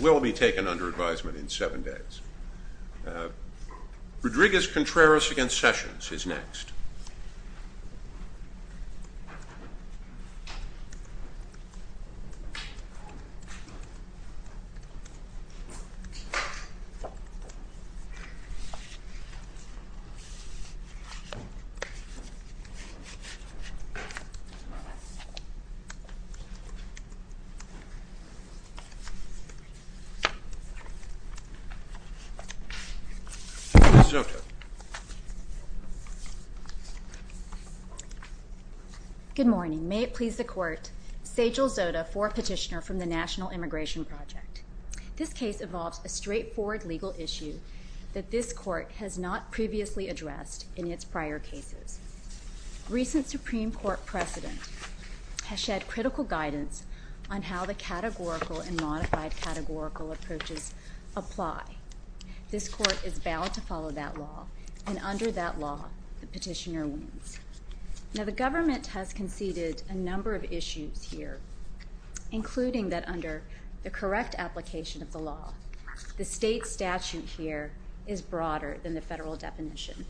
will be taken under advisement in seven days. Rodriguez-Contreras v. Sessions is next. Good morning. May it please the Court, Sajel Zota, fourth petitioner from the National Immigration Project. This case involves a straightforward legal issue that this Court has not previously addressed in its prior cases. Recent Supreme Court precedent has provided critical guidance on how the categorical and modified categorical approaches apply. This Court is bound to follow that law, and under that law, the petitioner wins. Now the government has conceded a number of issues here, including that under the correct application of the law, the state statute here is broader than the federal definition.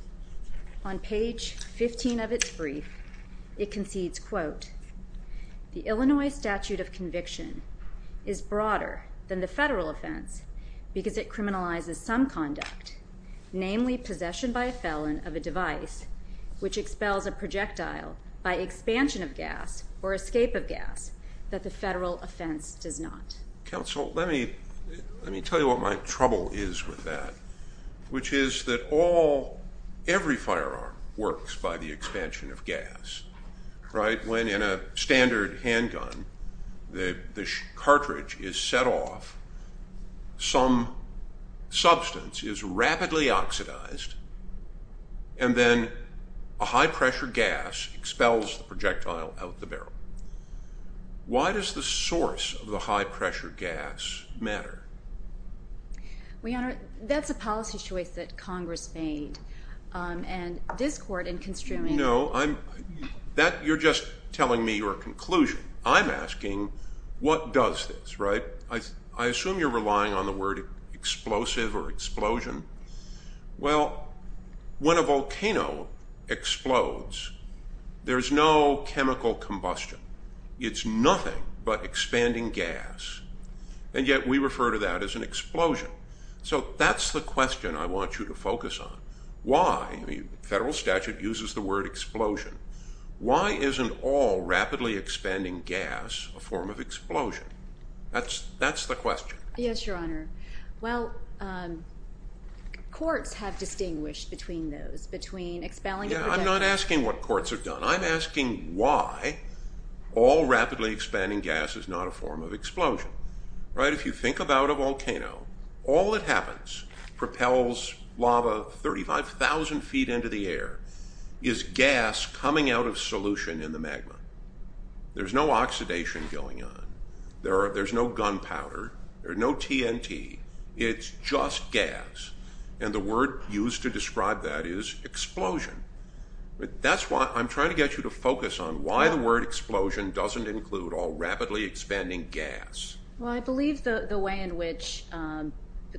On page 15 of this brief, it concedes, quote, the Illinois statute of conviction is broader than the federal offense because it criminalizes some conduct, namely possession by a felon of a device which expels a projectile by expansion of gas or escape of gas that the federal offense does not. Counsel, let me tell you what my trouble is with that, which is that all, every firearm works by the expansion of gas, right? When in a standard handgun, the cartridge is set off, some substance is rapidly oxidized, and then a high-pressure gas expels the projectile out of the barrel. Why does the source of the high-pressure gas matter? Well, Your Honor, that's a policy choice that Congress made, and this Court in construing... No, you're just telling me your conclusion. I'm asking what does this, right? I assume you're relying on the word explosive or explosion. Well, when a volcano explodes, there's no way to describe that as an explosion. So that's the question I want you to focus on. Why? The federal statute uses the word explosion. Why isn't all rapidly expanding gas a form of explosion? That's the question. Yes, Your Honor. Well, courts have distinguished between those, between expelling a projectile... I'm not asking what courts have done. I'm asking, if you think about a volcano, all that happens, propels lava 35,000 feet into the air, is gas coming out of solution in the magma. There's no oxidation going on. There's no gunpowder. There's no TNT. It's just gas, and the word used to describe that is explosion. That's why I'm trying to get you to focus on why the word explosion doesn't include all rapidly expanding gas. Well, I believe the way in which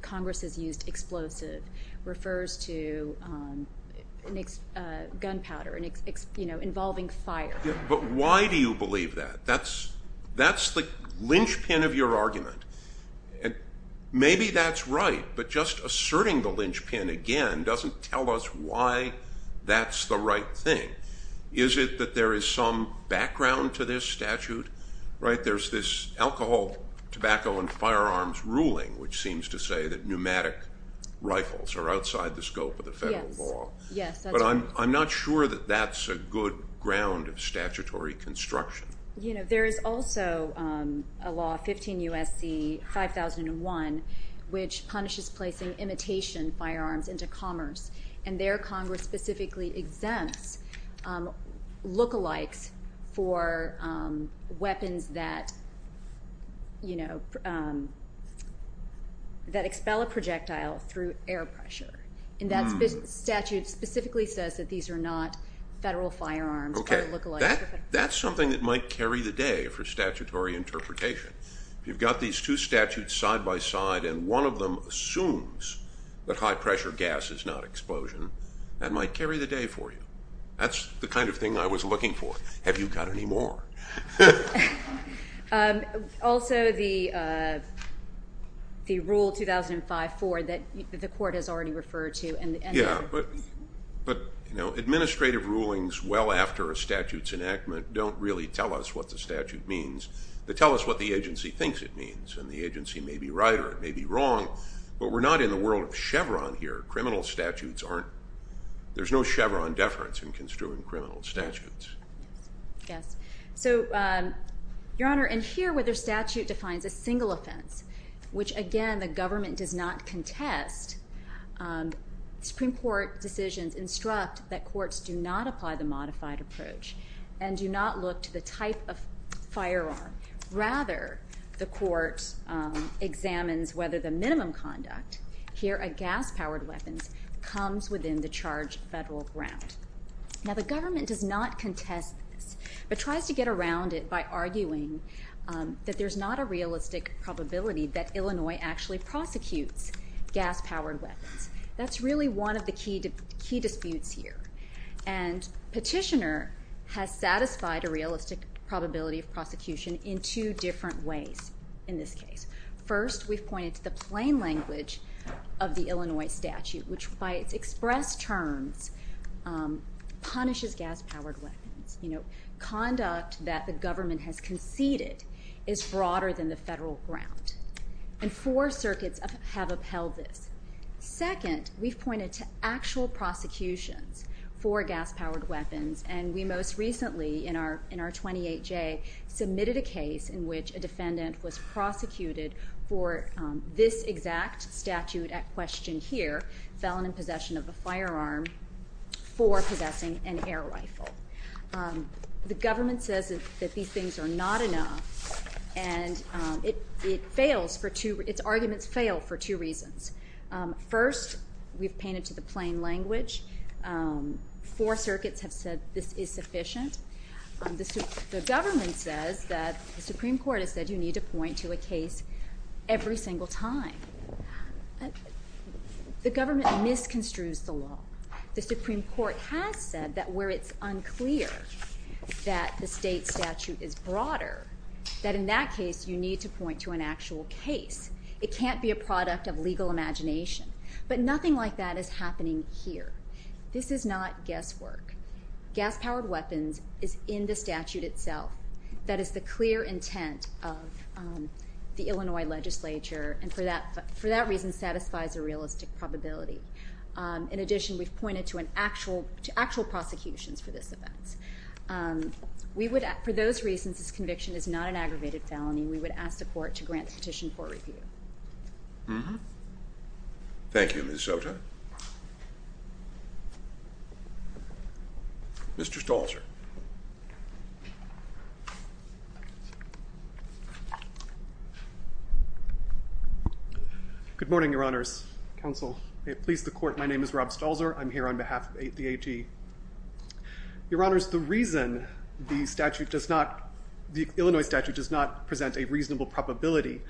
Congress has used explosive refers to gunpowder involving fire. But why do you believe that? That's the linchpin of your argument. Maybe that's right, but just asserting the linchpin again doesn't tell us why that's the right thing. Is it that there is some background to this statute? There's this alcohol, tobacco, and firearms ruling which seems to say that pneumatic rifles are outside the scope of the federal law. Yes, that's right. But I'm not sure that that's a good ground of statutory construction. There is also a law, 15 U.S.C. 5001, which specifically exempts look-alikes for weapons that expel a projectile through air pressure. That statute specifically says that these are not federal firearms or look-alikes. That's something that might carry the day for statutory interpretation. You've got these two statutes side-by-side, and one of them assumes that high-pressure gas is not explosion. That might carry the day for you. That's the kind of thing I was looking for. Have you got any more? Also, the Rule 2005-4 that the Court has already referred to. Administrative rulings well after a statute's enactment don't really tell us what the statute thinks it means, and the agency may be right or it may be wrong, but we're not in the world of Chevron here. Criminal statutes aren't—there's no Chevron deference in construing criminal statutes. Yes. So, Your Honor, in here where the statute defines a single offense, which again the government does not contest, Supreme Court decisions instruct that courts do not apply the modified approach and do not look to the type of firearm. Rather, the court examines whether the minimum conduct here at gas-powered weapons comes within the charged federal ground. Now, the government does not contest this, but tries to get around it by arguing that there's not a realistic probability that Illinois actually prosecutes gas-powered weapons. That's really one of the key disputes here, and Petitioner has satisfied a realistic probability of prosecution in two different ways in this case. First, we've pointed to the plain language of the Illinois statute, which by its express terms punishes gas-powered weapons. Conduct that the government has conceded is broader than the federal ground, and four circuits have upheld this. Second, we've pointed to actual prosecutions for gas-powered weapons, and we most recently in our 28J submitted a case in which a defendant was prosecuted for this exact statute at question here—felon in possession of a firearm for possessing an air rifle. The government says that these things are not enough, and its arguments fail for two reasons. First, we've pointed to the plain language. Four circuits have said this is sufficient. The government says that the Supreme Court has said you need to point to a case every single time. The government misconstrues the law. The Supreme Court has said that where it's unclear that the state statute is broader, that in that case you need to point to an actual case. It can't be a product of legal imagination, but nothing like that is happening here. This is not guesswork. Gas-powered weapons is in the statute itself. That is the clear intent of the Illinois legislature, and for that reason satisfies a realistic probability. In addition, we've pointed to actual prosecutions for this event. For those reasons, this conviction is not an aggravated felony. We would ask the court to grant petition for review. Mm-hmm. Thank you, Ms. Sota. Mr. Stalzer. Good morning, Your Honors. Counsel, may it please the Court, my name is Rob Stalzer. I'm here on behalf of the AG. Your Honors, the reason the Illinois statute does not present a reasonable probability